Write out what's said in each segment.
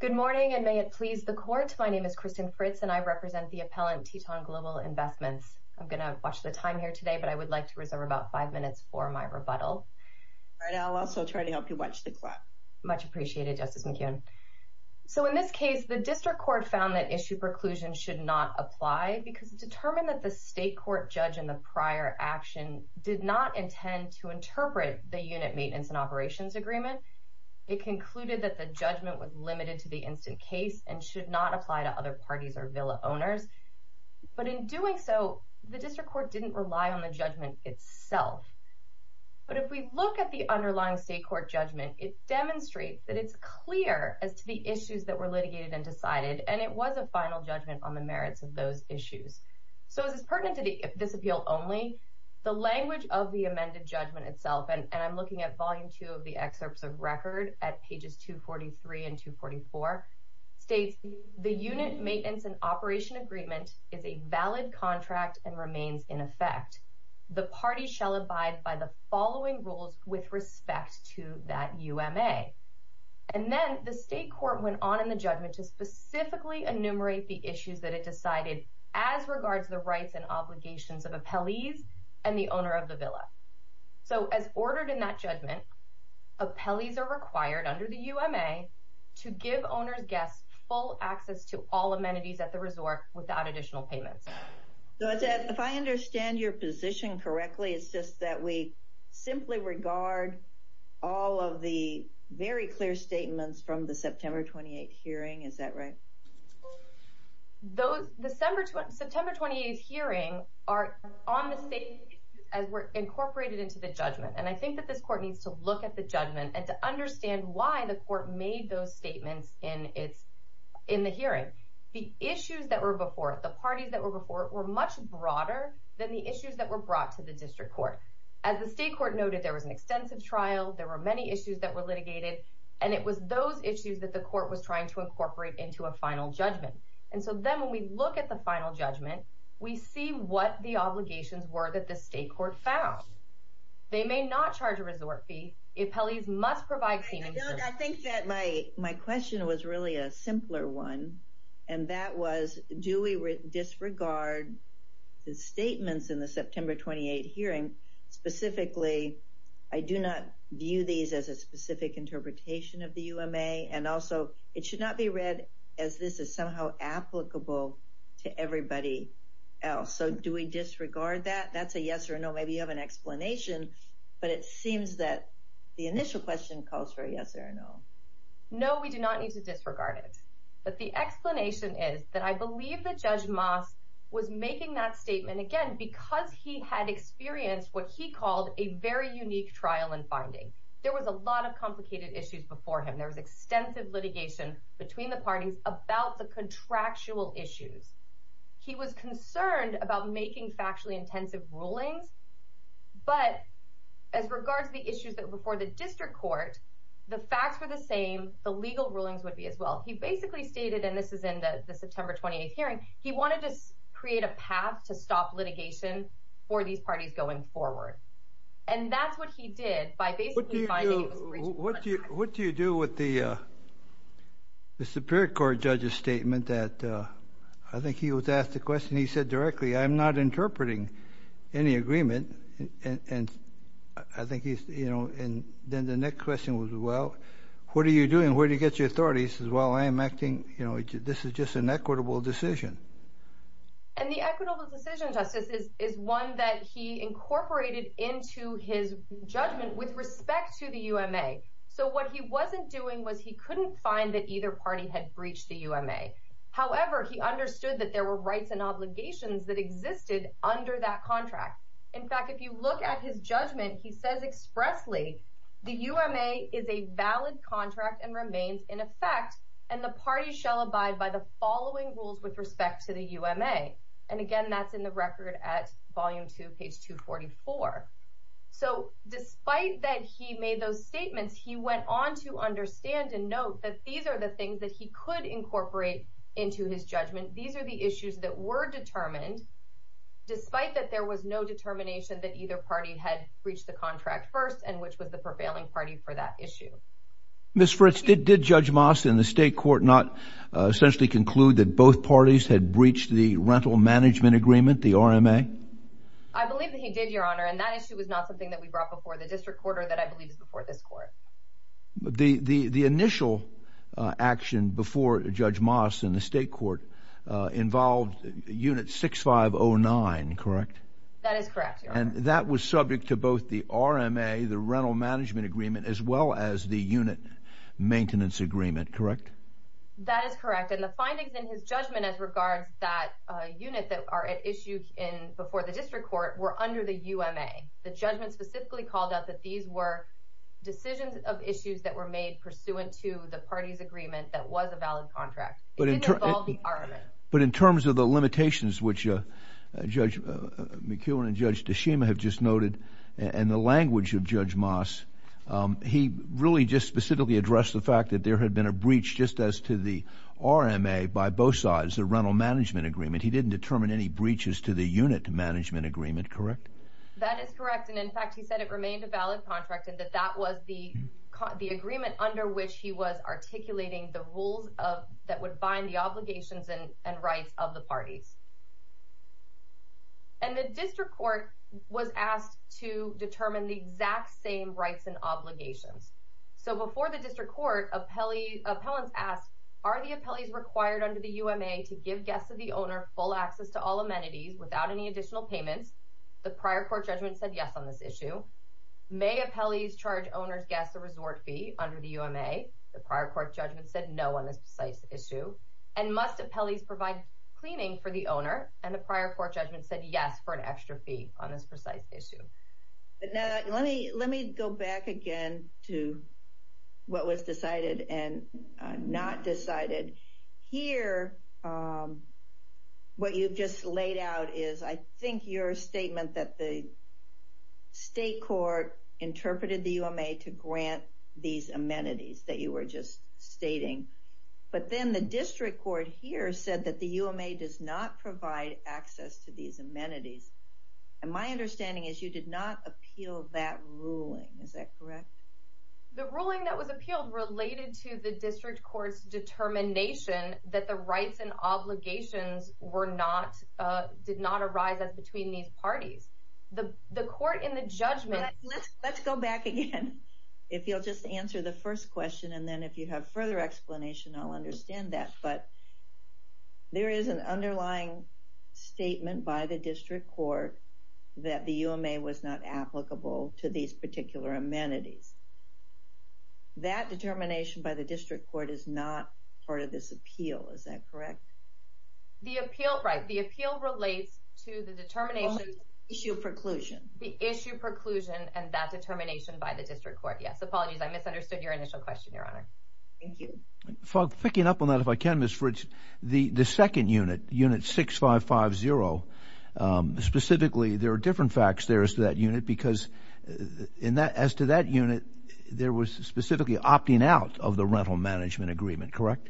Good morning and may it please the court. My name is Kristen Fritz and I represent the appellant Teton Global Investments. I'm gonna watch the time here today but I would like to reserve about five minutes for my rebuttal. I'll also try to help you watch the clock. Much appreciated Justice McKeown. So in this case the district court found that issue preclusion should not apply because it determined that the state court judge in the prior action did not intend to It concluded that the judgment was limited to the instant case and should not apply to other parties or villa owners. But in doing so the district court didn't rely on the judgment itself. But if we look at the underlying state court judgment it demonstrates that it's clear as to the issues that were litigated and decided and it was a final judgment on the merits of those issues. So as is pertinent to this appeal only, the language of the amended judgment itself and I'm looking at volume two of the excerpts of record at pages 243 and 244 states the unit maintenance and operation agreement is a valid contract and remains in effect. The party shall abide by the following rules with respect to that UMA. And then the state court went on in the judgment to specifically enumerate the issues that it decided as regards the rights and As ordered in that judgment, appellees are required under the UMA to give owners guests full access to all amenities at the resort without additional payments. If I understand your position correctly it's just that we simply regard all of the very clear statements from the September 28th hearing is that right? Those September 28th hearings are on the judgment and I think that this court needs to look at the judgment and to understand why the court made those statements in the hearing. The issues that were before it, the parties that were before it were much broader than the issues that were brought to the district court. As the state court noted there was an extensive trial there were many issues that were litigated and it was those issues that the court was trying to incorporate into a final judgment and so then when we look at the final judgment we see what the They may not charge a resort fee. Appellees must provide... I think that my question was really a simpler one and that was do we disregard the statements in the September 28th hearing? Specifically I do not view these as a specific interpretation of the UMA and also it should not be read as this is somehow applicable to everybody else. So do we disregard that? That's a yes or no maybe you have an explanation but it seems that the initial question calls for a yes or no. No we do not need to disregard it but the explanation is that I believe that Judge Moss was making that statement again because he had experienced what he called a very unique trial and finding. There was a lot of complicated issues before him. There was extensive litigation between the parties about the contractual issues. He was concerned about making factually intensive rulings but as regards the issues that were before the district court the facts were the same the legal rulings would be as well. He basically stated and this is in the September 28th hearing he wanted to create a path to stop litigation for these parties going forward and that's what he did by basically finding... What do you do with the the Superior Court judge's statement that I think he was asked the question he said directly I'm not interpreting any agreement and I think he's you know and then the next question was well what are you doing where do you get your authorities as well I am acting you know this is just an equitable decision. And the equitable decision justice is one that he incorporated into his judgment with respect to the UMA. So what he wasn't doing was he couldn't find that either party had breached the UMA. However he understood that there were rights and obligations that existed under that contract. In fact if you look at his judgment he says expressly the UMA is a valid contract and remains in effect and the party shall abide by the following rules with respect to the UMA. And again that's in the record at volume 2 page 244. So despite that he made those statements he went on to understand and note that these are the things that he could incorporate into his judgment these are the issues that were determined despite that there was no determination that either party had breached the contract first and which was the prevailing party for that issue. Ms. Fritz did Judge Moss in the state court not essentially conclude that both parties had breached the rental management agreement the RMA? I believe that he did your honor and that issue was not something that we brought before the district court or that I believe is before this court. The initial action before Judge Moss in the state court involved unit 6509 correct? That is correct. And that was subject to both the RMA the rental management agreement as well as the unit maintenance agreement correct? That is correct and the findings in his judgment as regards that unit that are at issue in before the district court were under the UMA. The judgment specifically called out that these were decisions of issues that were made pursuant to the party's agreement that was a valid contract. But in terms of the limitations which Judge McEwen and Judge DeShima have just noted and the language of Judge Moss he really just specifically addressed the fact that there had been a breach just as to the RMA by both sides the rental management agreement he didn't determine any breaches to the unit management agreement correct? That is correct and in fact he said it remained a valid contract and that that was the agreement under which he was articulating the rules of that would bind the obligations and rights of the parties. And the district court was asked to determine the exact same rights and obligations. So before the district court appellants asked are the appellees required under the UMA to give guests of the owner full access to all amenities without any additional payments? The prior court judgment said yes on this precise issue. May appellees charge owners gas a resort fee under the UMA? The prior court judgment said no on this precise issue. And must appellees provide cleaning for the owner? And the prior court judgment said yes for an extra fee on this precise issue. But now let me let me go back again to what was decided and not decided. Here what you've just laid out is I think your statement that the state court interpreted the UMA to grant these amenities that you were just stating. But then the district court here said that the UMA does not provide access to these amenities. And my understanding is you did not appeal that ruling is that correct? The ruling that was appealed related to the district courts determination that the rights and obligations were not did not arise as between these parties. The court in the judgment... Let's go back again if you'll just answer the first question and then if you have further explanation I'll understand that. But there is an underlying statement by the district court that the UMA was not applicable to these particular amenities. That determination by the district court is not part of this appeal is that correct? The appeal right the appeal relates to the determination issue preclusion. The issue preclusion and that determination by the district court yes apologies I misunderstood your initial question your honor. Thank you. Picking up on that if I can Miss Fritz the the second unit unit 6550 specifically there are different facts there as to that unit because in that as to that unit there was specifically opting out of the rental management agreement correct?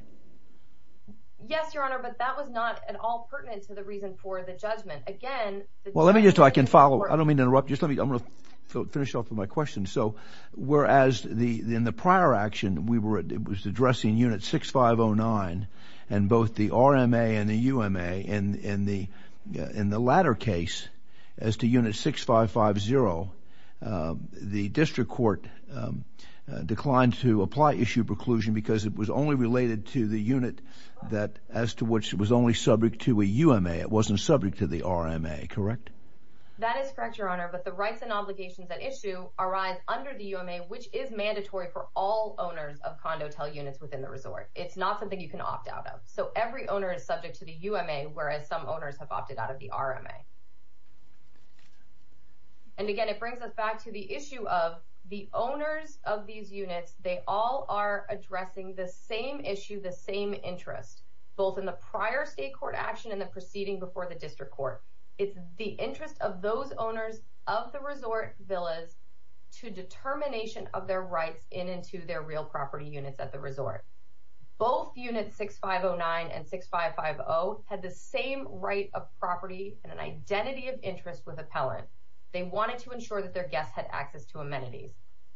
Yes your honor but that was not at all pertinent to the reason for the judgment. Again... Well let me just so I can follow I don't mean to interrupt just let me I'm gonna finish off with my question. So whereas the in the prior action we were it was addressing unit 6509 and both the RMA and the UMA and in the in the latter case as to unit 6550 the district court declined to apply issue preclusion because it was only related to the unit that as to which it was only subject to a UMA it wasn't subject to the RMA correct? That is correct your honor but the rights and obligations that issue arise under the UMA which is mandatory for all owners of condo tell units within the resort. It's not something you can opt out of so every owner is subject to the UMA whereas some owners have opted out of the RMA. And again it brings us back to the issue of the owners of the same issue the same interest both in the prior state court action and the proceeding before the district court. It's the interest of those owners of the resort villas to determination of their rights in into their real property units at the resort. Both units 6509 and 6550 had the same right of property and an identity of interest with appellant. They wanted to ensure that their guests had access to amenities.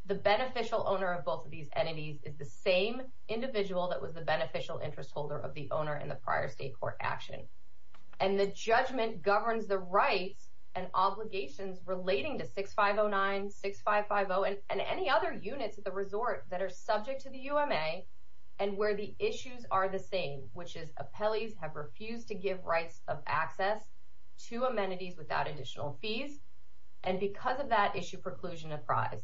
The beneficial owner of both of these entities is the same individual that was the beneficial interest holder of the owner in the prior state court action. And the judgment governs the rights and obligations relating to 6509 6550 and any other units at the resort that are subject to the UMA and where the issues are the same which is appellees have refused to give rights of access to amenities without additional fees and because of that issue preclusion apprised.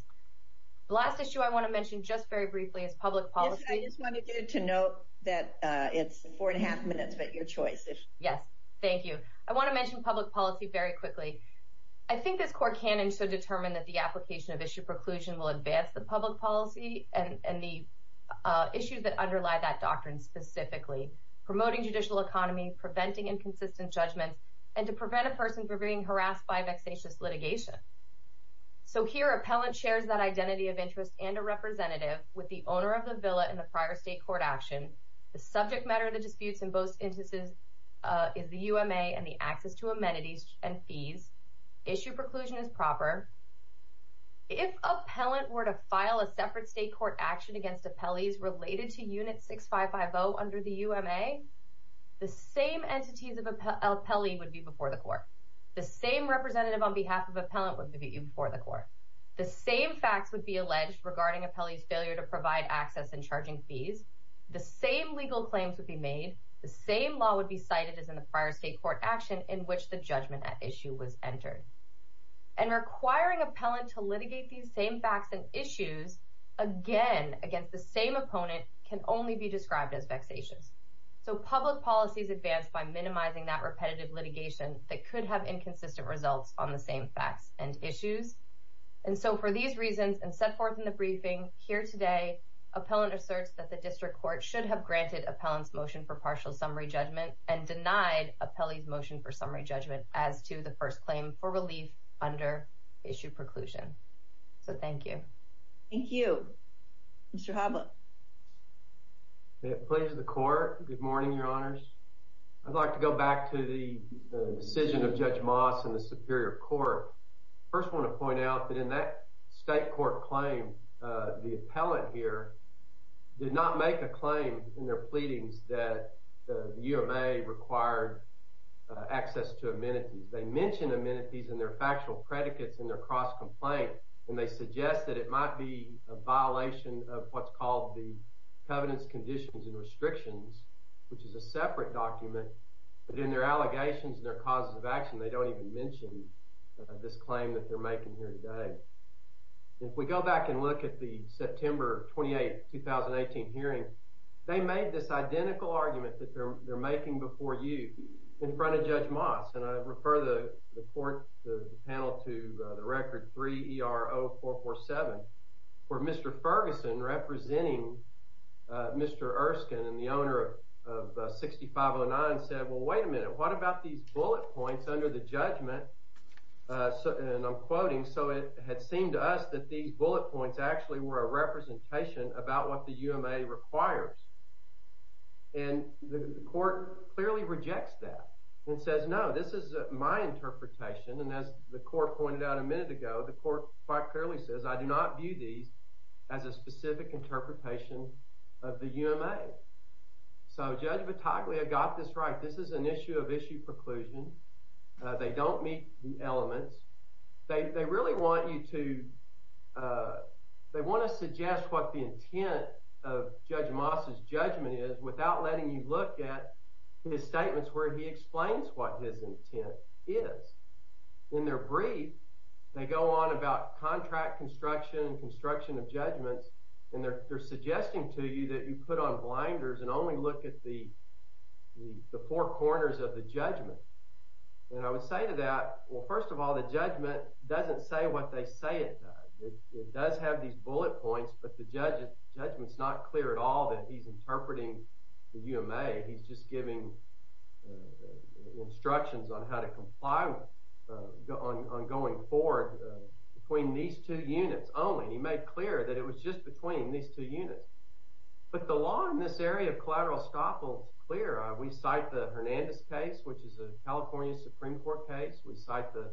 The last issue I want to get to note that it's four and a half minutes but your choice. Yes thank you. I want to mention public policy very quickly. I think this court can and should determine that the application of issue preclusion will advance the public policy and the issues that underlie that doctrine specifically promoting judicial economy preventing inconsistent judgments and to prevent a person from being harassed by vexatious litigation. So here appellant shares that identity of interest and a representative with the owner of the villa in the prior state court action. The subject matter of the disputes in both instances is the UMA and the access to amenities and fees. Issue preclusion is proper. If appellant were to file a separate state court action against appellees related to unit 6550 under the UMA the same entities of appellee would be before the court. The same representative on behalf of appellant would be before the court. The same facts would be alleged regarding appellee's failure to provide access and charging fees. The same legal claims would be made. The same law would be cited as in the prior state court action in which the judgment at issue was entered. And requiring appellant to litigate these same facts and issues again against the same opponent can only be described as vexatious. So public policies advance by minimizing that repetitive litigation that could have these reasons and set forth in the briefing here today. Appellant asserts that the district court should have granted appellant's motion for partial summary judgment and denied appellee's motion for summary judgment as to the first claim for relief under issue preclusion. So thank you. Thank you. Mr. Habla. Pleasure to the court. Good morning your honors. I'd like to go back to the decision of Judge Moss in the Superior Court. First I want to point out that in that state court claim the appellant here did not make a claim in their pleadings that the UMA required access to amenities. They mention amenities in their factual predicates in their cross-complaint and they suggest that it might be a violation of what's called the Covenants, Conditions, and Restrictions, which is a separate document, but in their allegations and their causes of action they don't even mention this claim that they're making here today. If we go back and look at the September 28, 2018 hearing they made this identical argument that they're making before you in front of Judge Moss and I refer the panel to the record 3 ER 0447 where Mr. Ferguson representing Mr. Erskine and the owner of 6509 said well wait a minute what about these bullet points under the judgment so and I'm quoting so it had seemed to us that these bullet points actually were a representation about what the UMA requires and the court clearly rejects that and says no this is my interpretation and as the court pointed out a minute ago the court quite clearly says I do not view these as a specific interpretation of the UMA. So they don't meet the elements they really want you to they want to suggest what the intent of Judge Moss's judgment is without letting you look at his statements where he explains what his intent is. In their brief they go on about contract construction and construction of judgments and they're suggesting to you that you put on blinders and only look at the four and I would say to that well first of all the judgment doesn't say what they say it does have these bullet points but the judge's judgments not clear at all that he's interpreting the UMA he's just giving instructions on how to comply on going forward between these two units only he made clear that it was just between these two units but the law in this area of collateral scoffles clear we cite the Hernandez case which is a California Supreme Court case we cite the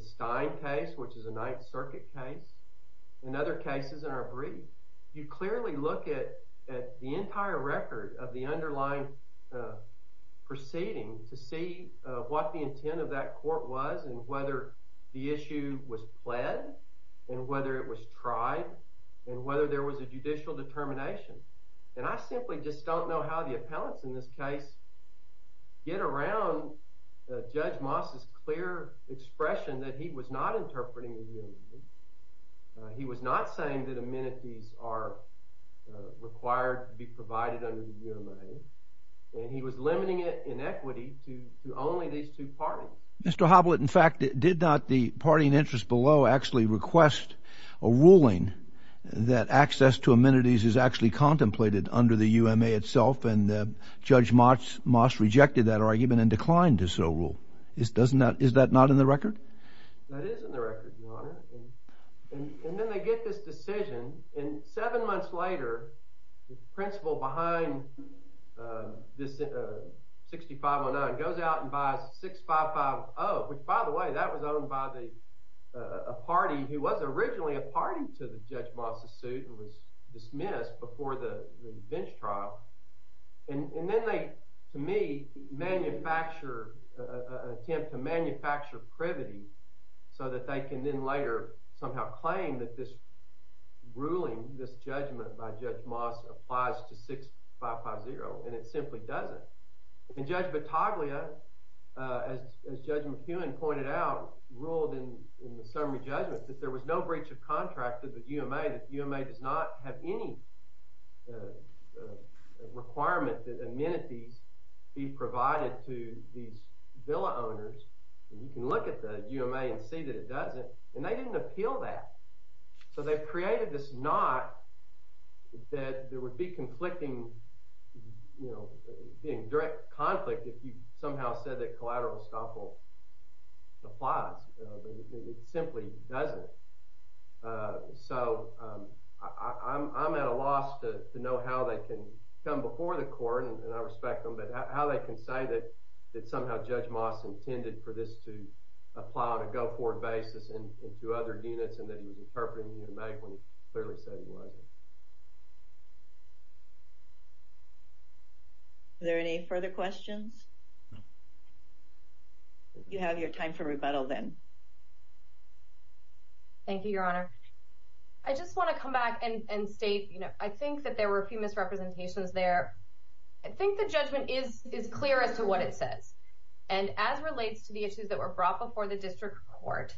Stein case which is a Ninth Circuit case and other cases in our brief you clearly look at the entire record of the underlying proceeding to see what the intent of that court was and whether the issue was pled and whether it was tried and whether there was a judicial determination and I simply just don't know how the appellants in this case get around judge Moss's clear expression that he was not interpreting he was not saying that amenities are required to be provided under the UMA and he was limiting it in equity to only these two parties. Mr. Hoblett in fact it did not the party in interest below actually request a ruling that access to amenities is actually contemplated under the UMA itself and the judge Moss rejected that argument and declined to so rule is doesn't that is that not in the record. That is in the record your honor and then they get this decision and seven months later the principal behind this 6519 goes out and buys 6550 which by the way that was owned by a party who was originally a party to the judge Moss's suit and was dismissed before the bench trial and then they to me manufacture attempt to manufacture privity so that they can then later somehow claim that this ruling this judgment by judge Moss applies to 6550 and it simply doesn't and judge Battaglia as judge McEwen pointed out ruled in the summary judgment that there was no breach of requirement that amenities be provided to these villa owners and you can look at the UMA and see that it doesn't and they didn't appeal that so they've created this not that there would be conflicting you know being direct conflict if you somehow said that collateral estoppel applies but it simply doesn't so I'm at a can come before the court and I respect them but how they can say that that somehow judge Moss intended for this to apply on a go-forward basis and to other units and that he was interpreting you make one clearly said he wasn't there any further questions you have your time for rebuttal then thank you your honor I just want to come back and state you know I think that there were a few misrepresentations there I think the judgment is is clear as to what it says and as relates to the issues that were brought before the district court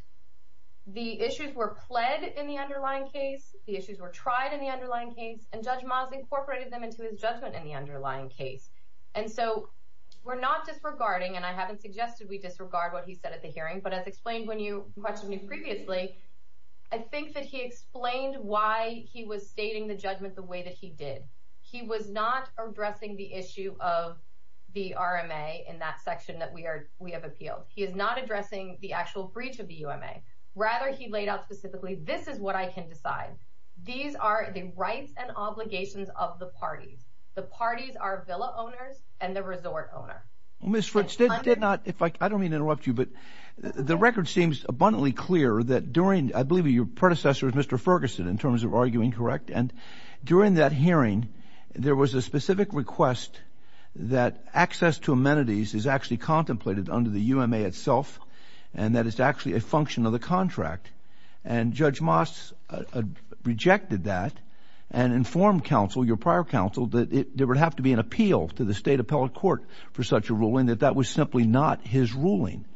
the issues were pled in the underlying case the issues were tried in the underlying case and judge Moss incorporated them into his judgment in the underlying case and so we're not disregarding and I haven't suggested we disregard what he said at the hearing but as explained when you question you previously I think that he explained why he was stating the judgment the way that he did he was not addressing the issue of the RMA in that section that we are we have appealed he is not addressing the actual breach of the UMA rather he laid out specifically this is what I can decide these are the rights and obligations of the parties the parties are Villa owners and the resort owner well miss rich did not if I don't mean interrupt you but the record seems abundantly clear that during I believe your predecessors Mr. Ferguson in terms of arguing correct and during that hearing there was a specific request that access to amenities is actually contemplated under the UMA itself and that is actually a function of the contract and judge Moss rejected that and informed counsel your prior counsel that it would have to be an appeal to the state appellate court for such a ruling that that was simply not his around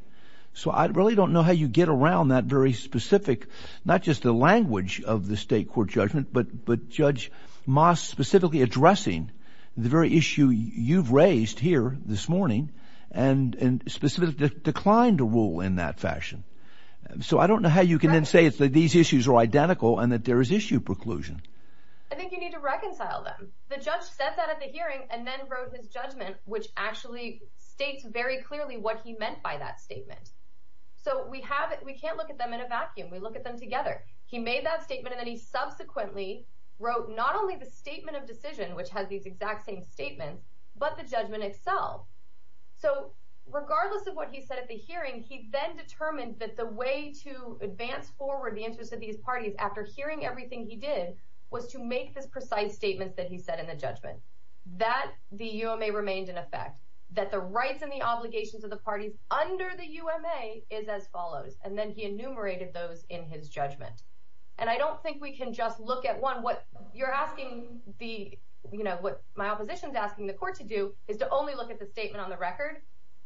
that very specific not just the language of the state court judgment but but judge Moss specifically addressing the very issue you've raised here this morning and and specifically declined to rule in that fashion so I don't know how you can then say it's that these issues are identical and that there is issue preclusion I think you need to reconcile them the judge said that at the hearing and then wrote his judgment which actually states very meant by that statement so we have it we can't look at them in a vacuum we look at them together he made that statement and then he subsequently wrote not only the statement of decision which has these exact same statement but the judgment itself so regardless of what he said at the hearing he then determined that the way to advance forward the interest of these parties after hearing everything he did was to make this precise statement that he said in the judgment that the UMA remained in effect that the rights and the obligations of parties under the UMA is as follows and then he enumerated those in his judgment and I don't think we can just look at one what you're asking the you know what my opposition is asking the court to do is to only look at the statement on the record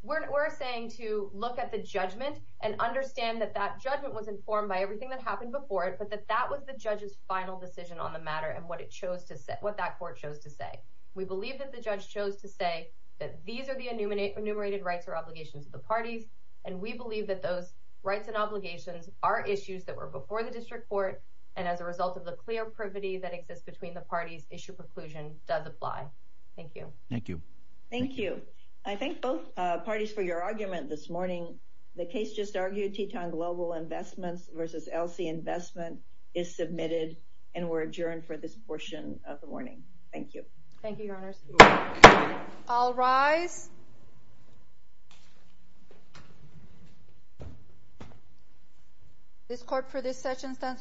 we're saying to look at the judgment and understand that that judgment was informed by everything that happened before it but that that was the judge's final decision on the matter and what it chose to set what that court chose to say we believe that the judge chose to say that these are the enumerated rights or obligations of the parties and we believe that those rights and obligations are issues that were before the district court and as a result of the clear privity that exists between the parties issue preclusion does apply. Thank you. Thank you. Thank you. I thank both parties for your argument this morning the case just argued Teton Global Investments versus LC Investment is submitted and we're adjourned for this portion of the session. This court for this session stands adjourned.